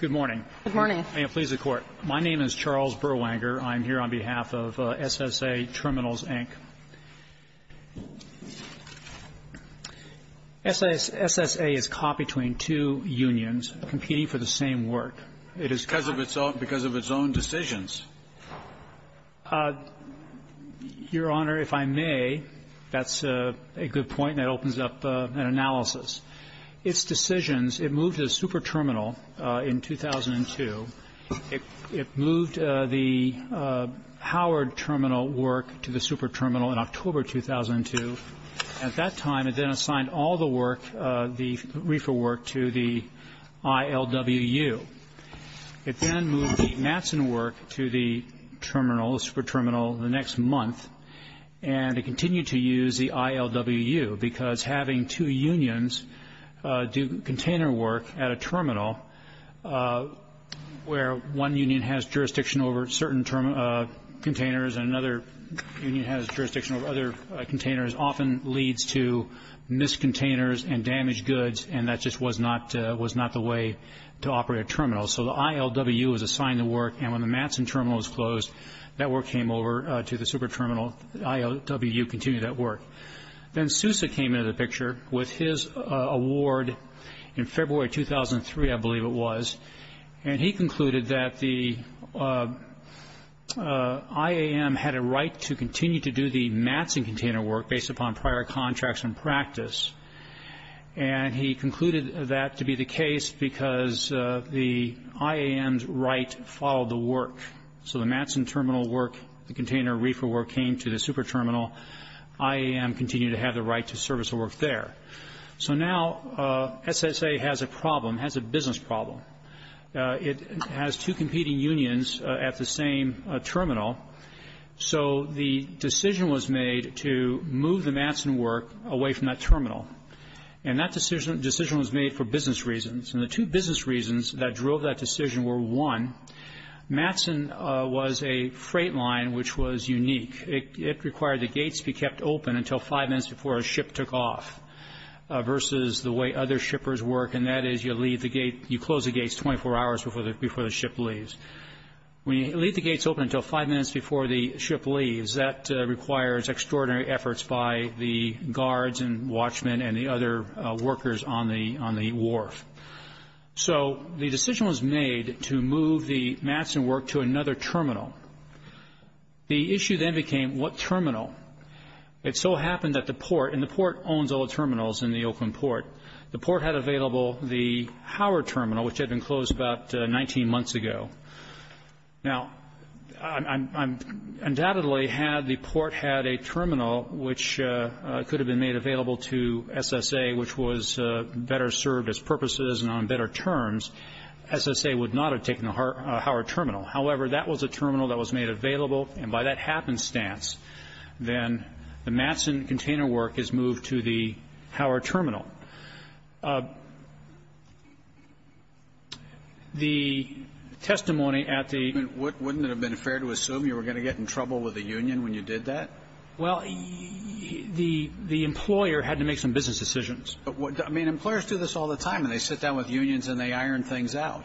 Good morning. Good morning. May it please the Court. My name is Charles Berwanger. I'm here on behalf of SSA Triminals, Inc. SSA is caught between two unions competing for the same work. It is caught because of its own decisions. Your Honor, if I may, that's a good point, and it opens up an analysis. Its decisions, it moved the super terminal in 2002. It moved the Howard terminal work to the super terminal in October 2002. At that time, it then assigned all the work, the reefer work, to the ILWU. It then moved the Matson work to the terminal, the super terminal, the next month. And it continued to use the ILWU because having two unions do container work at a terminal where one union has jurisdiction over certain containers and another union has jurisdiction over other containers often leads to miscontainers and damaged goods, and that just was not the way to operate a terminal. So the ILWU was assigned the work, and when the Matson terminal was closed, that work came over to the super terminal. The ILWU continued that work. Then Sousa came into the picture with his award in February 2003, I believe it was, and he concluded that the IAM had a right to continue to do the Matson container work based upon prior contracts and practice. And he concluded that to be the case because the IAM's right followed the work. So the Matson terminal work, the container reefer work, came to the super terminal. IAM continued to have the right to service the work there. So now SSA has a problem, has a business problem. It has two competing unions at the same terminal. So the decision was made to move the Matson work away from that terminal, and that decision was made for business reasons. And the two business reasons that drove that decision were, one, Matson was a freight line which was unique. It required the gates to be kept open until five minutes before a ship took off, versus the way other shippers work, and that is you leave the gate, you close the gates 24 hours before the ship leaves. When you leave the gates open until five minutes before the ship leaves, that requires extraordinary efforts by the guards and watchmen and the other workers on the wharf. So the decision was made to move the Matson work to another terminal. The issue then became what terminal. It so happened that the port, and the port owns all the terminals in the Oakland port, the port had available the Howard terminal, which had been closed about 19 months ago. Now, undoubtedly had the port had a terminal which could have been made available to SSA, which was better served as purposes and on better terms, SSA would not have taken the Howard terminal. However, that was a terminal that was made available, and by that happenstance, then the Matson container work is moved to the Howard terminal. The testimony at the ---- Kennedy. Wouldn't it have been fair to assume you were going to get in trouble with the union when you did that? Well, the employer had to make some business decisions. I mean, employers do this all the time, and they sit down with unions and they iron things out.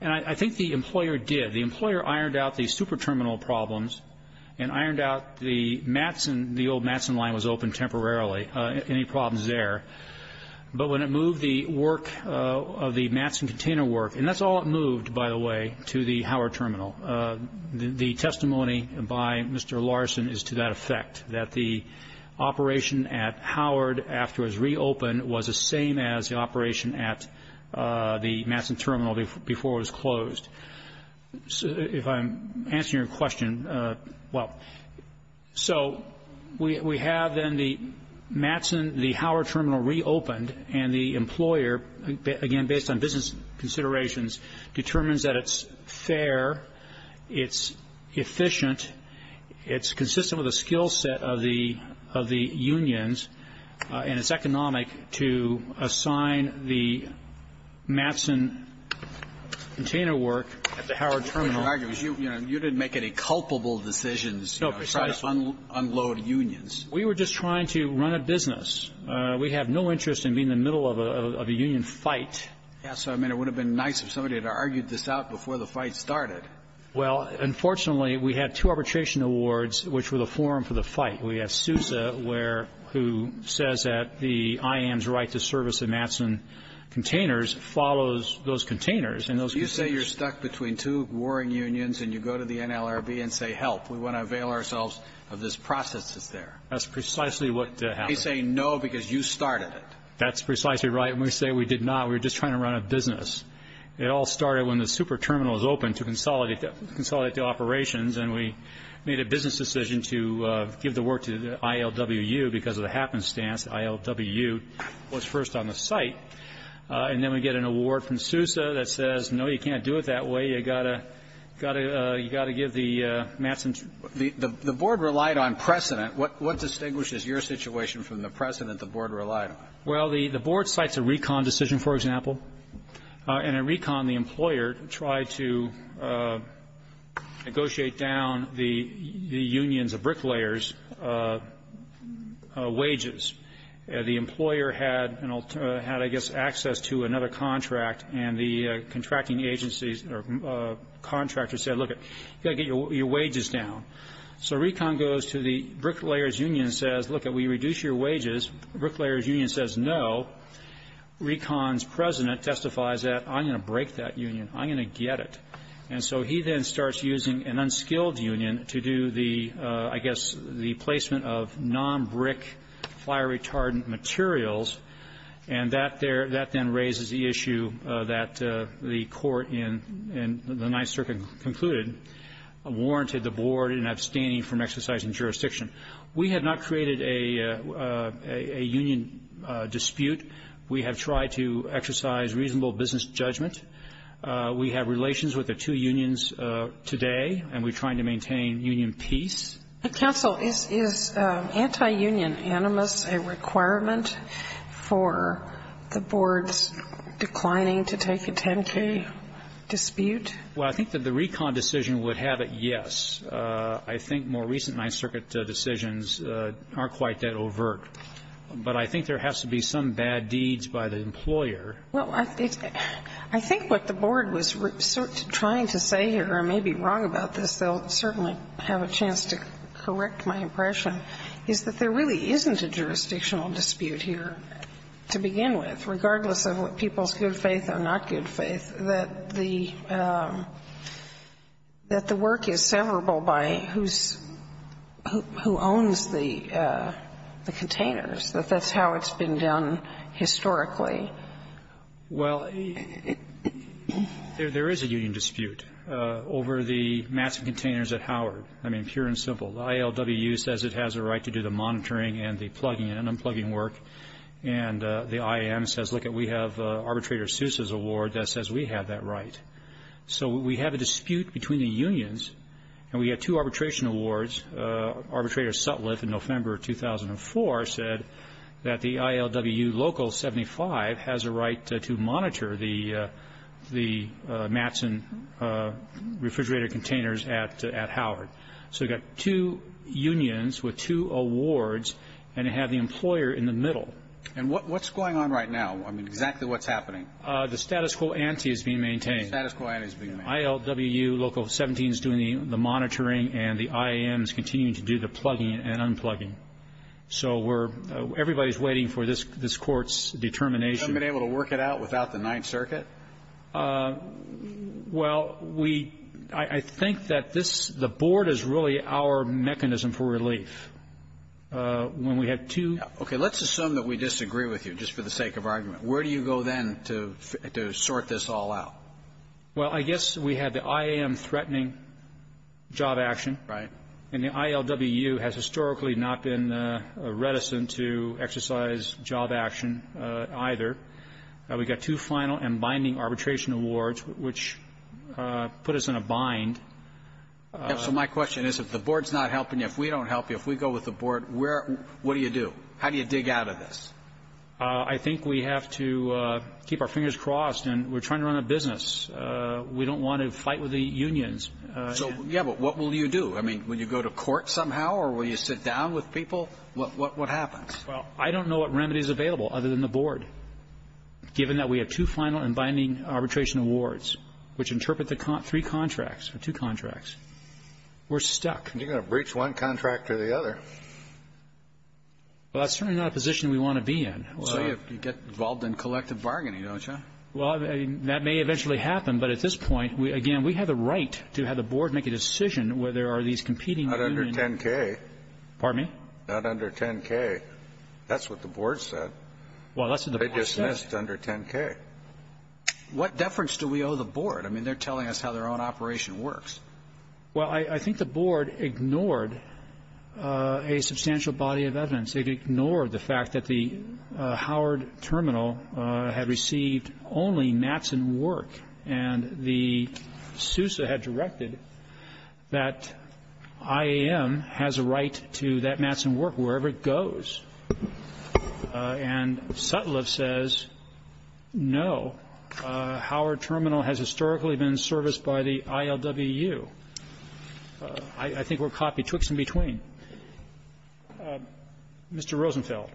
And I think the employer did. The employer ironed out the super terminal problems and ironed out the Matson, the old Matson line was open temporarily, any problems there. But when it moved the work of the Matson container work, and that's all it moved, by the way, to the Howard terminal, the testimony by Mr. Larson is to that effect, that the operation at Howard after it was reopened was the same as the operation at the Matson terminal before it was closed. If I'm answering your question well. So we have then the Matson, the Howard terminal reopened, and the employer, again, based on business considerations, determines that it's fair, it's efficient, it's consistent with the skill set of the unions, and it's economic to assign the Matson container work at the Howard terminal. What you're arguing is you didn't make any culpable decisions. No, precisely. Trying to unload unions. We were just trying to run a business. We have no interest in being in the middle of a union fight. Yes, I mean, it would have been nice if somebody had argued this out before the fight started. Well, unfortunately, we had two arbitration awards, which were the forum for the fight. We have Sousa, who says that the IM's right to service the Matson containers follows those containers. And those containers You say you're stuck between two warring unions, and you go to the NLRB and say, help, we want to avail ourselves of this process that's there. That's precisely what happened. They say no, because you started it. That's precisely right. And we say we did not. We were just trying to run a business. It all started when the super terminal was open to consolidate the operations. And we made a business decision to give the work to ILWU because of the happenstance. ILWU was first on the site. And then we get an award from Sousa that says, no, you can't do it that way. You got to got to you got to give the Matson the the board relied on precedent. What what distinguishes your situation from the precedent the board relied on? Well, the the board cites a recon decision, for example, and a recon. The employer tried to negotiate down the unions of bricklayers wages. The employer had had, I guess, access to another contract, and the contracting agency's contractor said, look, you got to get your wages down. So recon goes to the bricklayers union says, look, we reduce your wages. Bricklayers union says, no, recon's president testifies that I'm going to break that union. I'm going to get it. And so he then starts using an unskilled union to do the, I guess, the placement of non-brick, fire-retardant materials. And that there that then raises the issue that the court in the Ninth Circuit concluded warranted the board an abstaining from exercising jurisdiction. We have not created a union dispute. We have tried to exercise reasonable business judgment. We have relations with the two unions today, and we're trying to maintain union peace. Counsel, is anti-union animus a requirement for the board's declining to take a 10-K dispute? Well, I think that the recon decision would have it, yes. I think more recent Ninth Circuit decisions aren't quite that overt. But I think there has to be some bad deeds by the employer. Well, I think what the board was trying to say here, and I may be wrong about this, they'll certainly have a chance to correct my impression, is that there really isn't a jurisdictional dispute here to begin with, I mean, it's questionable by who's, who owns the containers, that that's how it's been done historically. Well, there is a union dispute over the massive containers at Howard. I mean, pure and simple. The ILWU says it has a right to do the monitoring and the plugging and unplugging work. And the IAM says, lookit, we have Arbitrator Seuss's award that says we have that right. So we have a dispute between the unions, and we have two arbitration awards. Arbitrator Sutliff in November 2004 said that the ILWU Local 75 has a right to monitor the Mattson refrigerator containers at Howard. So you've got two unions with two awards, and you have the employer in the middle. And what's going on right now? I mean, exactly what's happening? The status quo ante is being maintained. The status quo ante is being maintained. ILWU Local 17 is doing the monitoring, and the IAM is continuing to do the plugging and unplugging. So we're, everybody's waiting for this Court's determination. You haven't been able to work it out without the Ninth Circuit? Well, we, I think that this, the Board is really our mechanism for relief. When we have two. Okay. Let's assume that we disagree with you, just for the sake of argument. Where do you go then to sort this all out? Well, I guess we have the IAM threatening job action. Right. And the ILWU has historically not been reticent to exercise job action either. We've got two final and binding arbitration awards, which put us in a bind. So my question is, if the Board's not helping you, if we don't help you, if we go with the Board, where, what do you do? How do you dig out of this? I think we have to keep our fingers crossed. And we're trying to run a business. We don't want to fight with the unions. So, yeah, but what will you do? I mean, will you go to court somehow, or will you sit down with people? What, what happens? Well, I don't know what remedy is available other than the Board, given that we have two final and binding arbitration awards, which interpret the three contracts, or two contracts. We're stuck. You're going to breach one contract or the other. Well, that's certainly not a position we want to be in. So you get involved in collective bargaining, don't you? Well, that may eventually happen. But at this point, again, we have the right to have the Board make a decision whether or not these competing unions are going to be able to work together. Not under 10K. Pardon me? Not under 10K. That's what the Board said. Well, that's what the Board said. They dismissed under 10K. What deference do we owe the Board? I mean, they're telling us how their own operation works. Well, I think the Board ignored a substantial body of evidence. It ignored the fact that the Howard Terminal had received only mats and work, and the SUSA had directed that IAM has a right to that mats and work wherever it goes. And Sutliff says, no, Howard Terminal has historically been serviced by the ILWU. I think we're caught betwixt and between. Mr. Rosenfeld.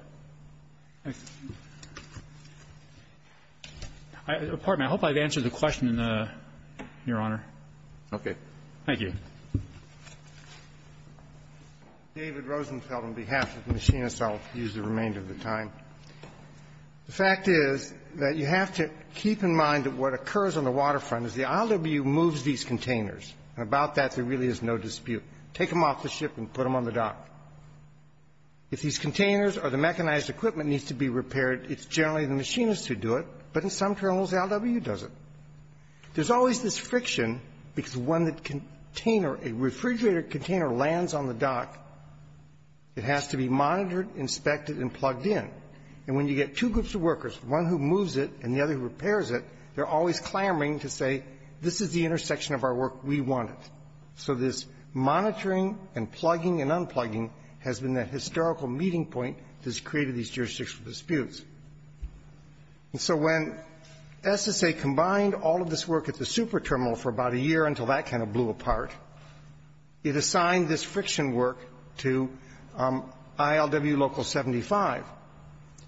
Pardon me. I hope I've answered the question, Your Honor. Okay. Thank you. David Rosenfeld, on behalf of the machinists, I'll use the remainder of the time. The fact is that you have to keep in mind that what occurs on the waterfront is the ILWU moves these containers, and about that there really is no dispute. Take them off the ship and put them on the dock. If these containers or the mechanized equipment needs to be repaired, it's generally the machinists who do it, but in some terminals the ILWU does it. There's always this friction because when the container, a refrigerator container lands on the dock, it has to be monitored, inspected, and plugged in. And when you get two groups of workers, one who moves it and the other who repairs it, they're always clamoring to say, this is the intersection of our work, we want it. So this monitoring and plugging and unplugging has been the historical meeting point that's created these jurisdictional disputes. And so when SSA combined all of this work at the super terminal for about a year until that kind of blew apart, it assigned this friction work to ILWU Local 75.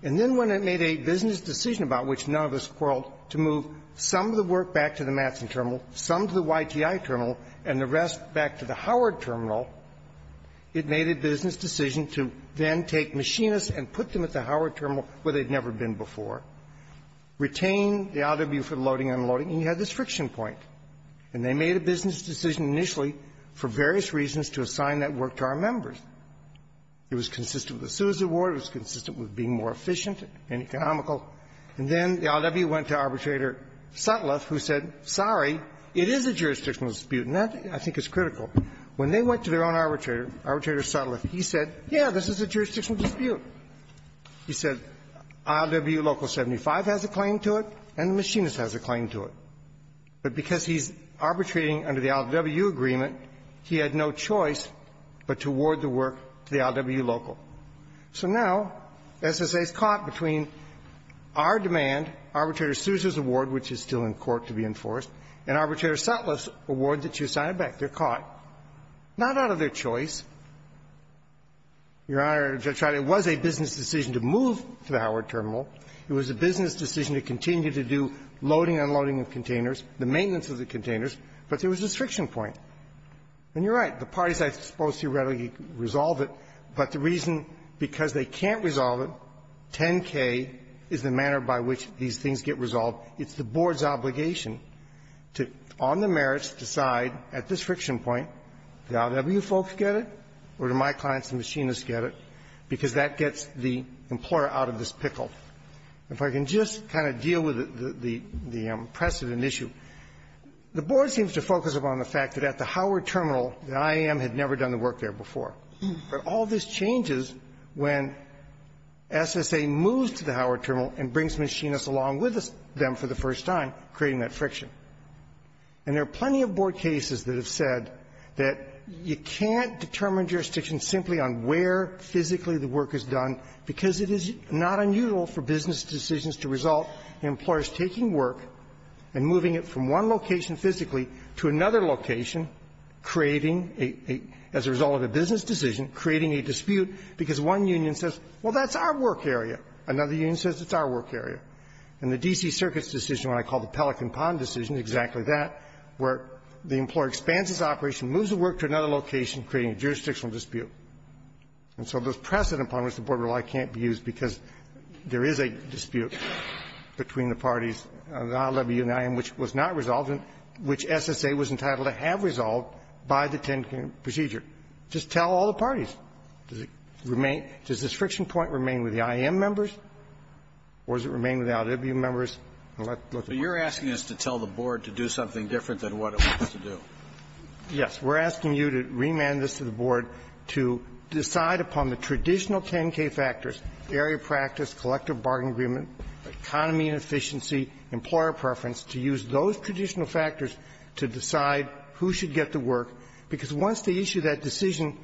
And then when it made a business decision about which none of us quarreled, to move some of the work back to the Matson terminal, some to the YTI terminal, and the rest back to the Howard terminal, it made a business decision to then take machinists and put them at the Howard terminal where they'd never been before, retain the ILWU for loading and unloading, and you had this friction point. And they made a business decision initially for various reasons to assign that work to our members. It was consistent with the citizen award. It was consistent with being more efficient and economical. And then the ILWU went to Arbitrator Sutliff, who said, sorry, it is a jurisdictional dispute, and that, I think, is critical. When they went to their own arbitrator, Arbitrator Sutliff, he said, yeah, this is a jurisdictional dispute. He said, ILWU Local 75 has a claim to it, and the machinist has a claim to it. But because he's arbitrating under the ILWU agreement, he had no choice but to award the work to the ILWU Local. So now SSA is caught between our demand, Arbitrator Sousa's award, which is still in court to be enforced, and Arbitrator Sutliff's award that you assigned back. They're caught, not out of their choice. Your Honor, Judge Reilly, it was a business decision to move to the Howard Terminal. It was a business decision to continue to do loading and unloading of containers, the maintenance of the containers. But there was this friction point. And you're right. The parties are supposed to readily resolve it. But the reason, because they can't resolve it, 10-K is the manner by which these things get resolved. It's the Board's obligation to, on the merits, decide at this friction point, if the or do my clients and machinists get it, because that gets the employer out of this pickle. If I can just kind of deal with the precedent issue, the Board seems to focus upon the fact that at the Howard Terminal, the IAM had never done the work there before. But all this changes when SSA moves to the Howard Terminal and brings machinists along with them for the first time, creating that friction. And there are plenty of Board cases that have said that you can't determine jurisdiction simply on where physically the work is done, because it is not unusual for business decisions to result in employers taking work and moving it from one location physically to another location, creating a as a result of a business decision, creating a dispute, because one union says, well, that's our work area. Another union says it's our work area. And the D.C. Circuit's decision, what I call the Pelican Pond decision, exactly that, where the employer expands its operation, moves the work to another location, creating a jurisdictional dispute. And so this precedent upon which the Board relied can't be used, because there is a dispute between the parties, the IWU and the IAM, which was not resolved and which SSA was entitled to have resolved by the 10-point procedure. Just tell all the parties. Does it remain does this friction point remain with the IAM members, or does it remain with the IWU members? And let's look at that. But you're asking us to tell the Board to do something different than what it wants to do. Yes. We're asking you to remand this to the Board to decide upon the traditional 10-K factors, area practice, collective bargain agreement, economy and efficiency, employer preference, to use those traditional factors to decide who should get the work, because once they issue that decision,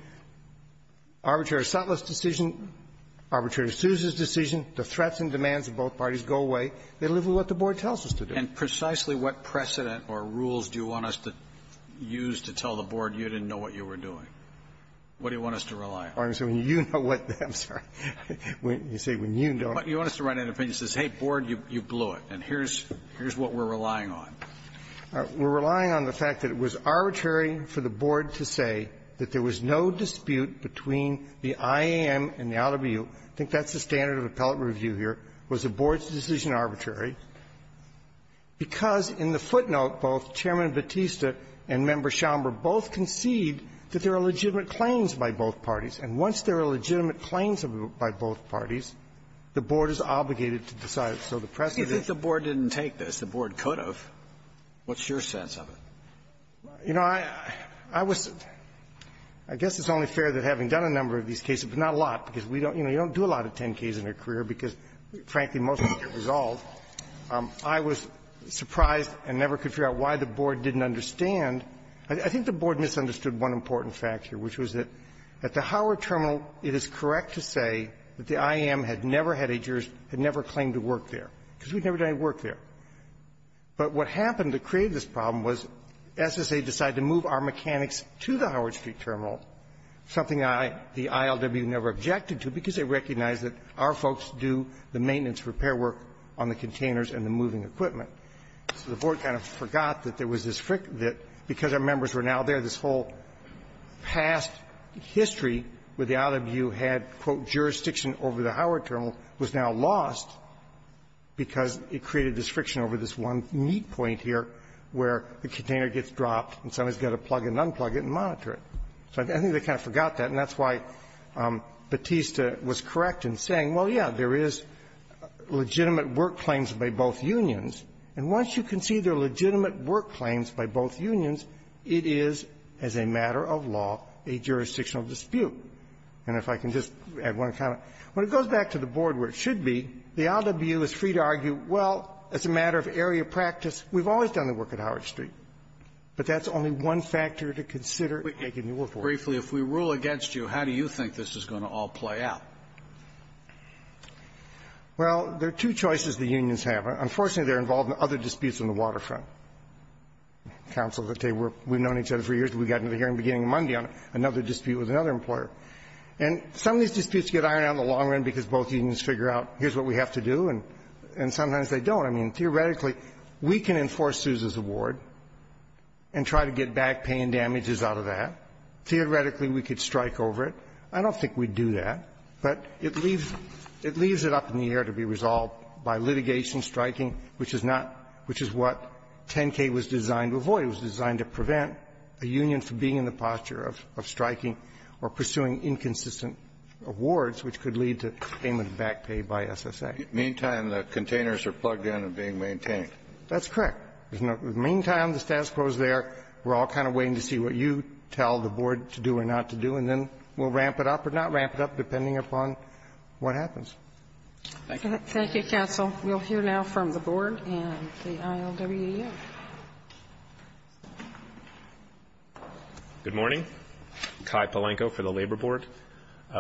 Arbitrator Sutliff's decision, Arbitrator Sousa's decision, the threats and demands of both parties go away. They live with what the Board tells us to do. And precisely what precedent or rules do you want us to use to tell the Board you didn't know what you were doing? What do you want us to rely on? You know what the question is. I'm sorry. You say, when you don't. You want us to write an opinion that says, hey, Board, you blew it, and here's what we're relying on. We're relying on the fact that it was arbitrary for the Board to say that there was no dispute between the IAM and the IWU. I think that's the standard of appellate review here, was the Board's decision arbitrary, because in the footnote, both Chairman Batista and Member Schomburg both concede that there are legitimate claims by both parties. And once there are legitimate claims by both parties, the Board is obligated to decide. So the precedent is the Board didn't take this. The Board could have. What's your sense of it? You know, I was – I guess it's only fair that having done a number of these cases, but not a lot, because we don't – you know, you don't do a lot of 10-Ks in your career, because, frankly, most of them get resolved. I was surprised and never could figure out why the Board didn't understand. I think the Board misunderstood one important fact here, which was that at the Howard Terminal, it is correct to say that the IAM had never had a jurors – had never claimed to work there, because we'd never done any work there. But what happened that created this problem was SSA decided to move our mechanics to the Howard Street Terminal, something I, the ILW, never objected to, because they recognized that our folks do the maintenance repair work on the containers and the moving equipment. So the Board kind of forgot that there was this – that because our members were now there, this whole past history with the ILW had, quote, jurisdiction over the Howard Terminal was now lost because it created this friction over this one neat point here where the container gets dropped and somebody's got to plug and unplug it and monitor it. So I think they kind of forgot that, and that's why Batista was correct in saying, well, yeah, there is legitimate work claims by both unions, and once you can see there are legitimate work claims by both unions, it is, as a matter of law, a jurisdictional dispute. And if I can just add one comment. When it goes back to the Board where it should be, the ILW is free to argue, well, as a matter of area practice, we've always done the work at Howard Street, but that's only one factor to consider in making the work work. Scalia. Briefly, if we rule against you, how do you think this is going to all play out? Well, there are two choices the unions have. Unfortunately, they're involved in other disputes on the waterfront. Counsel, let's say we've known each other for years, and we got into a hearing beginning Monday on another dispute with another employer. And some of these disputes get ironed out in the long run because both unions figure out here's what we have to do, and sometimes they don't. I mean, theoretically, we can enforce Sousa's award and try to get back pay and damages out of that. Theoretically, we could strike over it. I don't think we'd do that, but it leaves up in the air to be resolved by litigation striking, which is not what 10K was designed to avoid. It was designed to prevent a union from being in the posture of striking or pursuing inconsistent awards, which could lead to payment of back pay by SSA. In the meantime, the containers are plugged in and being maintained. That's correct. In the meantime, the status quo is there. We're all kind of waiting to see what you tell the Board to do or not to do, and then we'll ramp it up or not ramp it up, depending upon what happens. Thank you. Thank you, counsel. We'll hear now from the Board and the IOWU. Good morning. Kai Palenko for the Labor Board.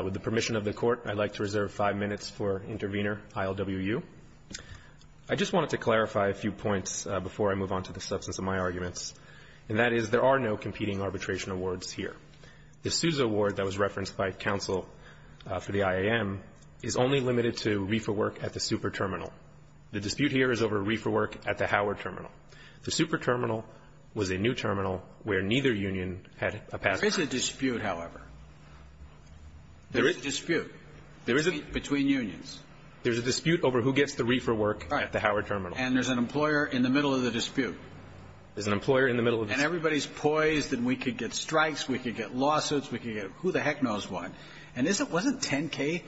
With the permission of the Court, I'd like to reserve five minutes for Intervenor IOWU. I just wanted to clarify a few points before I move on to the substance of my arguments, and that is there are no competing arbitration awards here. The Sousa award that was referenced by counsel for the IAM is only limited to reefer work at the Super Terminal. The dispute here is over reefer work at the Howard Terminal. The Super Terminal was a new terminal where neither union had a past time. There is a dispute, however. There is a dispute. There is a dispute between unions. There's a dispute over who gets the reefer work at the Howard Terminal. And there's an employer in the middle of the dispute. There's an employer in the middle of the dispute. And everybody's poised that we could get strikes, we could get lawsuits, we could get who the heck knows what. And isn't 10K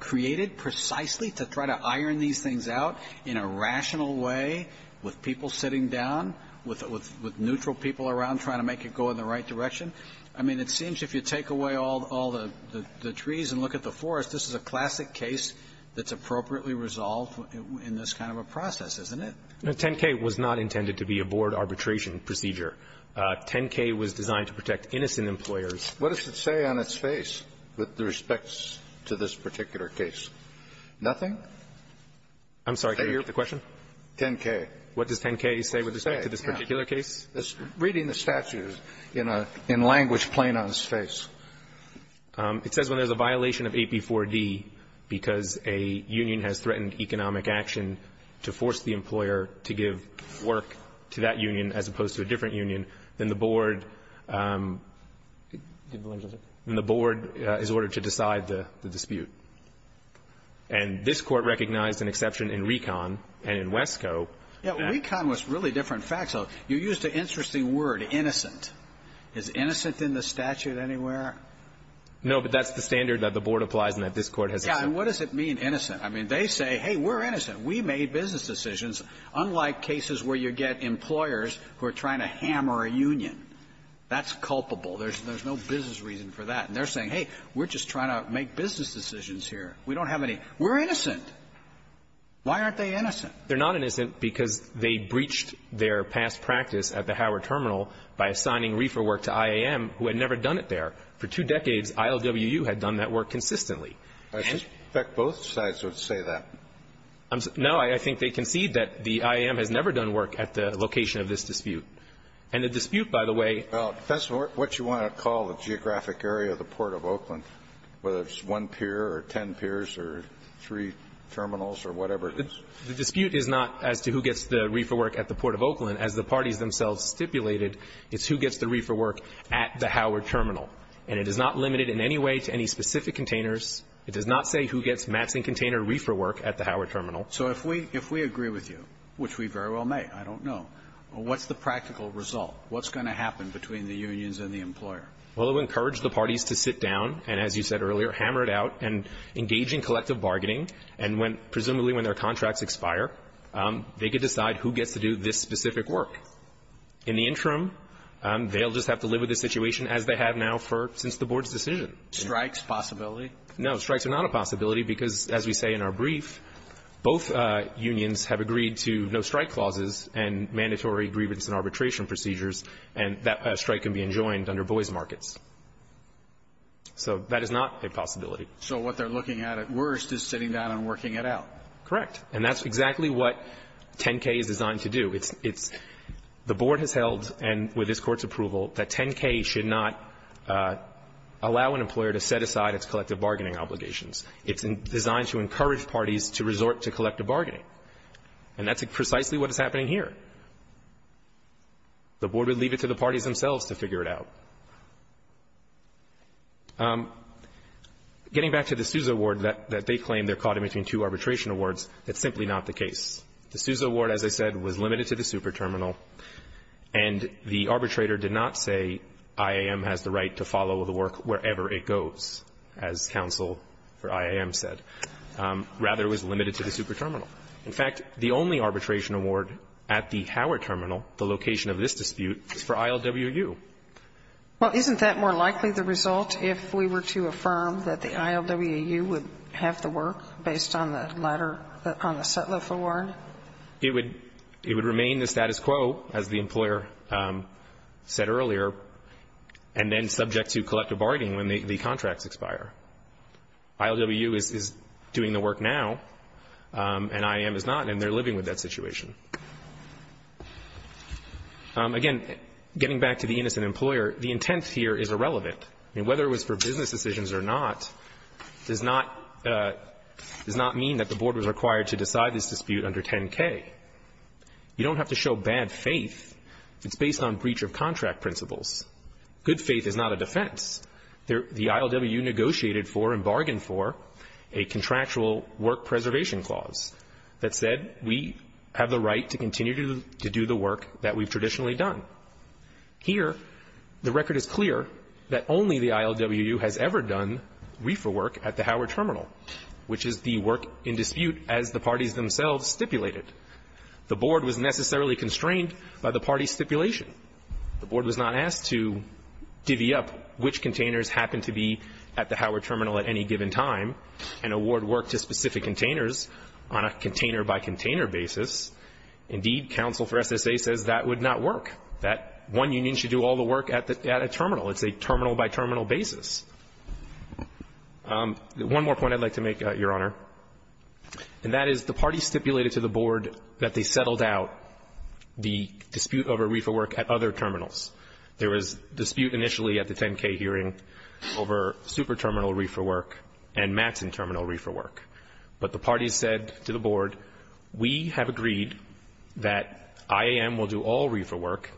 created precisely to try to iron these things out in a rational way with people sitting down, with neutral people around trying to make it go in the right direction? I mean, it seems if you take away all the trees and look at the forest, this is a classic case that's appropriately resolved in this kind of a process, isn't it? No, 10K was not intended to be a board arbitration procedure. 10K was designed to protect innocent employers. What does it say on its face with respect to this particular case? Nothing? I'm sorry. Can you repeat the question? 10K. What does 10K say with respect to this particular case? Reading the statute in a language plain on its face. It says when there's a violation of AP4D because a union has threatened economic action to force the employer to give work to that union as opposed to a different union, then the board is ordered to decide the dispute. And this Court recognized an exception in Recon and in WESCO. Yeah. Recon was really different facts. So you used an interesting word, innocent. Is innocent in the statute anywhere? No, but that's the standard that the board applies and that this Court has accepted. Yeah. And what does it mean, innocent? I mean, they say, hey, we're innocent. We made business decisions, unlike cases where you get employers who are trying to hammer a union. That's culpable. There's no business reason for that. And they're saying, hey, we're just trying to make business decisions here. We don't have any. We're innocent. Why aren't they innocent? They're not innocent because they breached their past practice at the Howard Terminal by assigning reefer work to IAM, who had never done it there. For two decades, ILWU had done that work consistently. I suspect both sides would say that. No, I think they concede that the IAM has never done work at the location of this dispute. And the dispute, by the way ---- Well, that's what you want to call the geographic area of the Port of Oakland, whether it's one pier or ten piers or three terminals or whatever it is. The dispute is not as to who gets the reefer work at the Port of Oakland. As the parties themselves stipulated, it's who gets the reefer work at the Howard Terminal. And it is not limited in any way to any specific containers. It does not say who gets mats and container reefer work at the Howard Terminal. So if we agree with you, which we very well may, I don't know, what's the practical result? What's going to happen between the unions and the employer? Well, it would encourage the parties to sit down and, as you said earlier, hammer it out and engage in collective bargaining. And when ---- presumably when their contracts expire, they could decide who gets to do this specific work. In the interim, they'll just have to live with the situation as they have now for since the Board's decision. Strikes possibility? No. Strikes are not a possibility because, as we say in our brief, both unions have agreed to no-strike clauses and mandatory grievance and arbitration procedures. And that strike can be enjoined under boys' markets. So that is not a possibility. So what they're looking at at worst is sitting down and working it out. Correct. And that's exactly what 10K is designed to do. It's the Board has held, and with this Court's approval, that 10K should not allow an employer to set aside its collective bargaining obligations. It's designed to encourage parties to resort to collective bargaining. And that's precisely what is happening here. The Board would leave it to the parties themselves to figure it out. Getting back to the Sousa award that they claim they're caught in between two arbitration awards, that's simply not the case. The Sousa award, as I said, was limited to the super terminal, and the arbitrator did not say IAM has the right to follow the work wherever it goes, as counsel for IAM said. Rather, it was limited to the super terminal. In fact, the only arbitration award at the Howard terminal, the location of this dispute, is for ILWU. Well, isn't that more likely the result if we were to affirm that the ILWU would have the work based on the latter, on the Sutliff award? It would remain the status quo, as the employer said earlier, and then subject to collective bargaining when the contracts expire. ILWU is doing the work now, and IAM is not, and they're living with that situation. Again, getting back to the innocent employer, the intent here is irrelevant. I mean, whether it was for business decisions or not does not mean that the board was required to decide this dispute under 10K. You don't have to show bad faith. It's based on breach of contract principles. Good faith is not a defense. The ILWU negotiated for and bargained for a contractual work preservation clause that said we have the right to continue to do the work that we've traditionally done. Here, the record is clear that only the ILWU has ever done reefer work at the Howard terminal, which is the work in dispute as the parties themselves stipulated. The board was necessarily constrained by the party stipulation. The board was not asked to divvy up which containers happened to be at the Howard terminal at any given time and award work to specific containers on a container-by-container basis. Indeed, counsel for SSA says that would not work, that one union should do all the work at a terminal. It's a terminal-by-terminal basis. One more point I'd like to make, Your Honor, and that is the parties stipulated to the board that they settled out the dispute over reefer work at other terminals. There was dispute initially at the 10K hearing over super terminal reefer work and Mattson terminal reefer work. But the parties said to the board, we have agreed that IAM will do all reefer work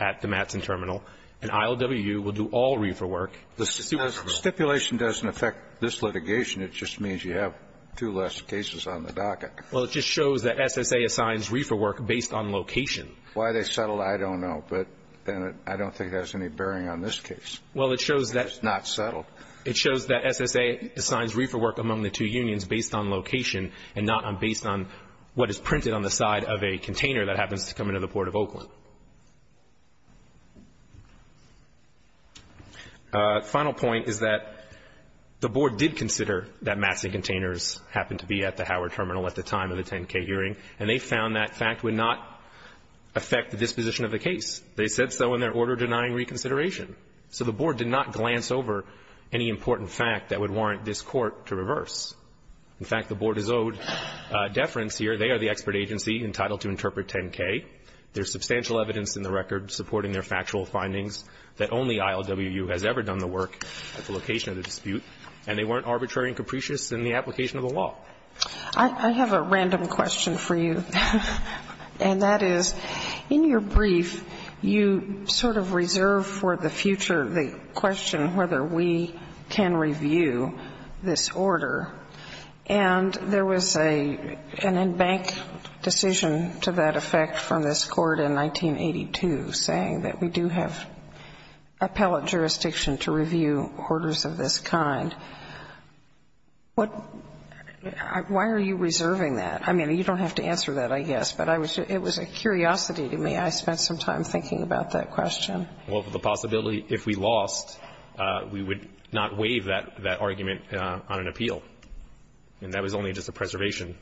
at the Mattson terminal, and ILWU will do all reefer work. The super terminal. The stipulation doesn't affect this litigation. It just means you have two less cases on the docket. Well, it just shows that SSA assigns reefer work based on location. Why they settled, I don't know. But then I don't think it has any bearing on this case. Well, it shows that. It's not settled. It shows that SSA assigns reefer work among the two unions based on location and not based on what is printed on the side of a container that happens to come into the Port of Oakland. Final point is that the board did consider that Mattson containers happened to be at the Howard terminal at the time of the 10K hearing, and they found that fact would not affect the disposition of the case. They said so in their order denying reconsideration. So the board did not glance over any important fact that would warrant this Court to reverse. In fact, the board is owed deference here. They are the expert agency entitled to interpret 10K. There's substantial evidence in the record supporting their factual findings that only ILWU has ever done the work at the location of the dispute, and they weren't arbitrary and capricious in the application of the law. I have a random question for you, and that is, in your brief, you sort of reserve for the future the question whether we can review this order, and there was an embanked decision to that effect from this Court in 1982 saying that we do have appellate jurisdiction to review orders of this kind. Why are you reserving that? I mean, you don't have to answer that, I guess, but it was a curiosity to me. I spent some time thinking about that question. Well, the possibility if we lost, we would not waive that argument on an appeal, and that was only just a preservation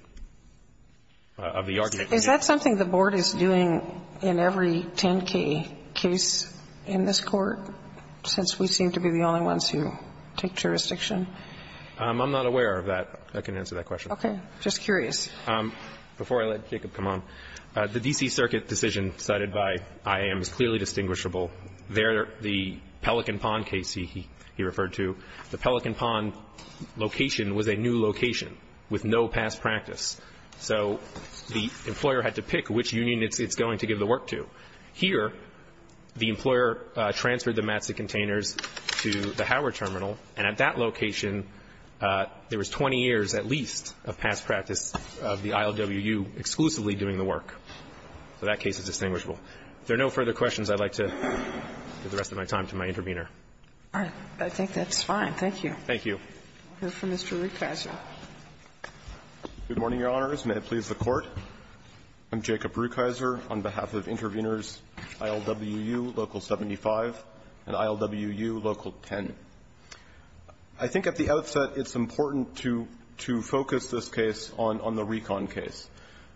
of the argument. Is that something the board is doing in every 10K case in this Court, since we seem to be the only ones who take jurisdiction? I'm not aware of that. I can answer that question. Okay. Just curious. Before I let Jacob come on, the D.C. Circuit decision cited by IAM is clearly distinguishable. There, the Pelican Pond case he referred to, the Pelican Pond location was a new location with no past practice. So the employer had to pick which union it's going to give the work to. Here, the employer transferred the mats and containers to the Howard Terminal, and at that location, there was 20 years at least of past practice of the ILWU exclusively doing the work. So that case is distinguishable. If there are no further questions, I'd like to give the rest of my time to my intervener. All right. I think that's fine. Thank you. Thank you. We'll hear from Mr. Rukeyser. Good morning, Your Honors. May it please the Court. I'm Jacob Rukeyser on behalf of Interveners, ILWU Local 75 and ILWU Local 10. I think at the outset, it's important to focus this case on the Recon case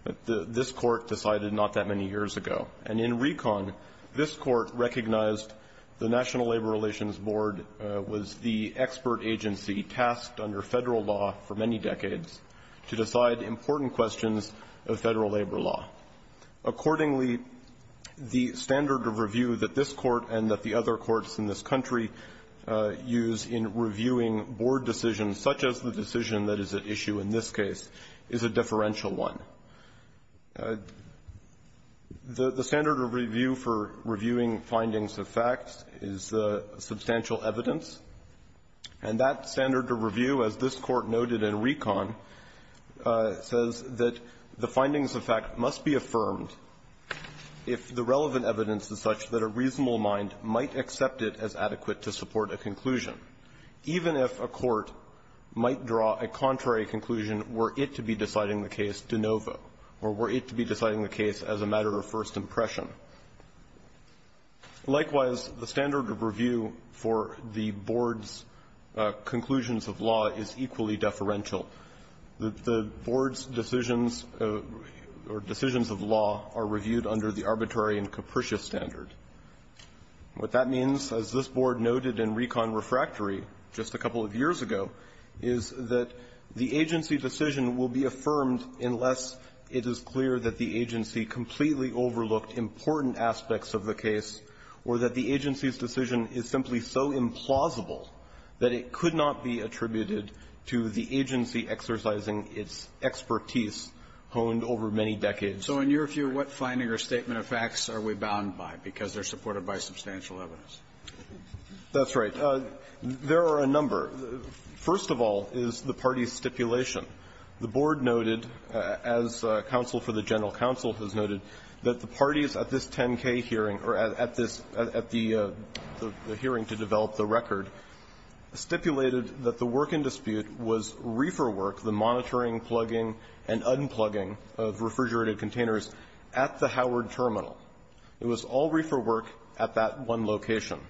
that this Court decided not that many years ago. And in Recon, this Court recognized the National Labor Relations Board was the expert in the Federal labor law. Accordingly, the standard of review that this Court and that the other courts in this country use in reviewing board decisions, such as the decision that is at issue in this case, is a differential one. The standard of review for reviewing findings of facts is substantial evidence. And that standard of review, as this Court noted in Recon, says that the findings of fact must be affirmed if the relevant evidence is such that a reasonable mind might accept it as adequate to support a conclusion, even if a court might draw a contrary conclusion were it to be deciding the case de novo or were it to be that the board's conclusions of law is equally deferential. The board's decisions or decisions of law are reviewed under the arbitrary and capricious standard. What that means, as this Board noted in Recon Refractory just a couple of years ago, is that the agency decision will be affirmed unless it is clear that the agency completely overlooked important aspects of the case or that the agency's decision is simply so implausible that it could not be attributed to the agency exercising its expertise honed over many decades. Kennedy. So in your view, what finding or statement of facts are we bound by because they're supported by substantial evidence? That's right. There are a number. First of all is the party's stipulation. The board noted, as counsel for the general counsel has noted, that the parties at this 10-K hearing or at this at the hearing to develop the record stipulated that the work in dispute was reefer work, the monitoring, plugging, and unplugging of refrigerated containers at the Howard Terminal. It was all reefer work at that one location,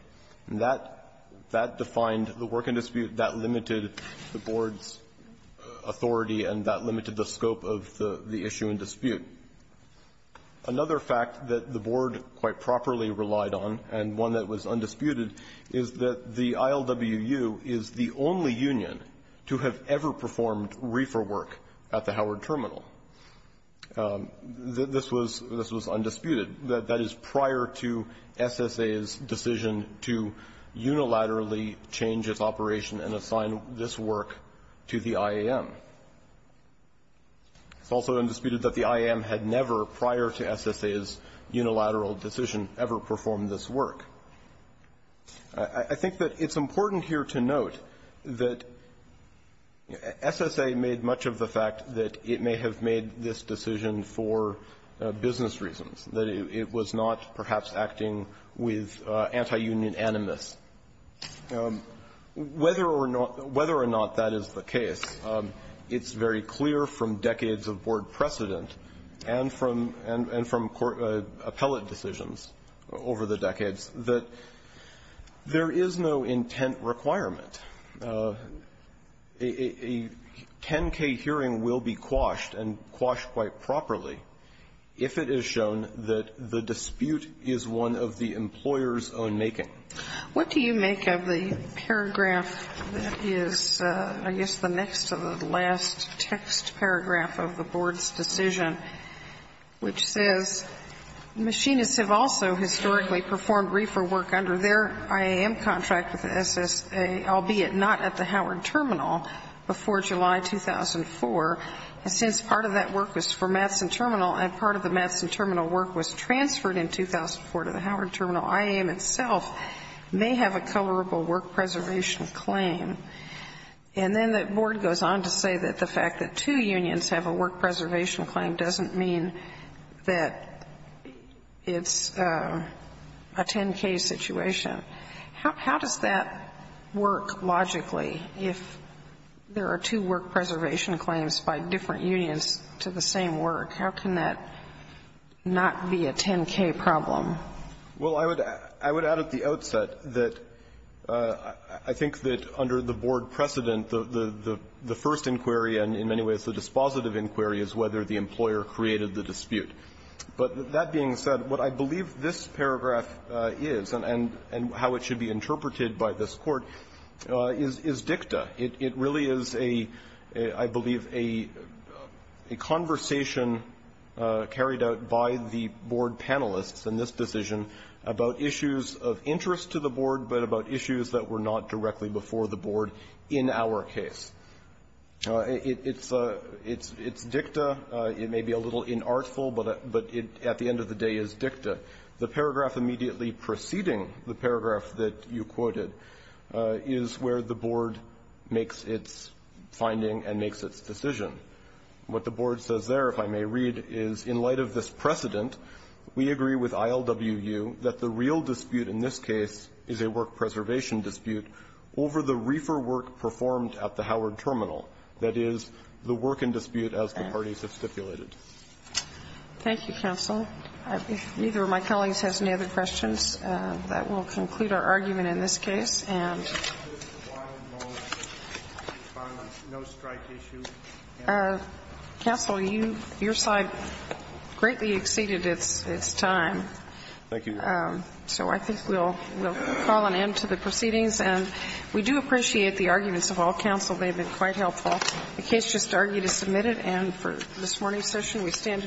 and that defined the work in dispute. That limited the board's authority and that limited the scope of the issue in dispute. Another fact that the board quite properly relied on and one that was undisputed is that the ILWU is the only union to have ever performed reefer work at the Howard Terminal. This was undisputed. That is prior to SSA's decision to unilaterally change its operation and assign this work to the IAM. It's also undisputed that the IAM had never, prior to SSA's unilateral decision, ever performed this work. I think that it's important here to note that SSA made much of the fact that it may have made this decision for business reasons, that it was not perhaps acting with anti-union animus. Whether or not that is the case, it's very clear from decades of board precedent and from appellate decisions over the decades that there is no intent requirement. A 10-K hearing will be quashed and quashed quite properly if it is shown that the dispute is one of the employer's own making. What do you make of the paragraph that is, I guess, the next to the last text paragraph of the board's decision, which says machinists have also historically performed reefer work under their IAM contract with the SSA, albeit not at the Howard Terminal before July 2004, and since part of that work was for Madsen Terminal and part of the may have a colorable work preservation claim. And then the board goes on to say that the fact that two unions have a work preservation claim doesn't mean that it's a 10-K situation. How does that work logically if there are two work preservation claims by different unions to the same work? How can that not be a 10-K problem? Well, I would add at the outset that I think that under the board precedent, the first inquiry and in many ways the dispositive inquiry is whether the employer created the dispute. But that being said, what I believe this paragraph is and how it should be interpreted by this Court is dicta. It really is a, I believe, a conversation carried out by the board panelists in this decision about issues of interest to the board, but about issues that were not directly before the board in our case. It's dicta. It may be a little inartful, but at the end of the day, it's dicta. The paragraph immediately preceding the paragraph that you quoted is where the board makes its finding and makes its decision. What the board says there, if I may read, is, in light of this precedent, we agree with ILWU that the real dispute in this case is a work preservation dispute over the reefer work performed at the Howard Terminal. That is, the work in dispute as the parties have stipulated. Thank you, counsel. If neither of my colleagues has any other questions, that will conclude our argument in this case. And counsel, you, your side greatly exceeded its time. So I think we'll call an end to the proceedings. And we do appreciate the arguments of all counsel. They've been quite helpful. The case just argued is submitted, and for this morning's session, we stand adjourned.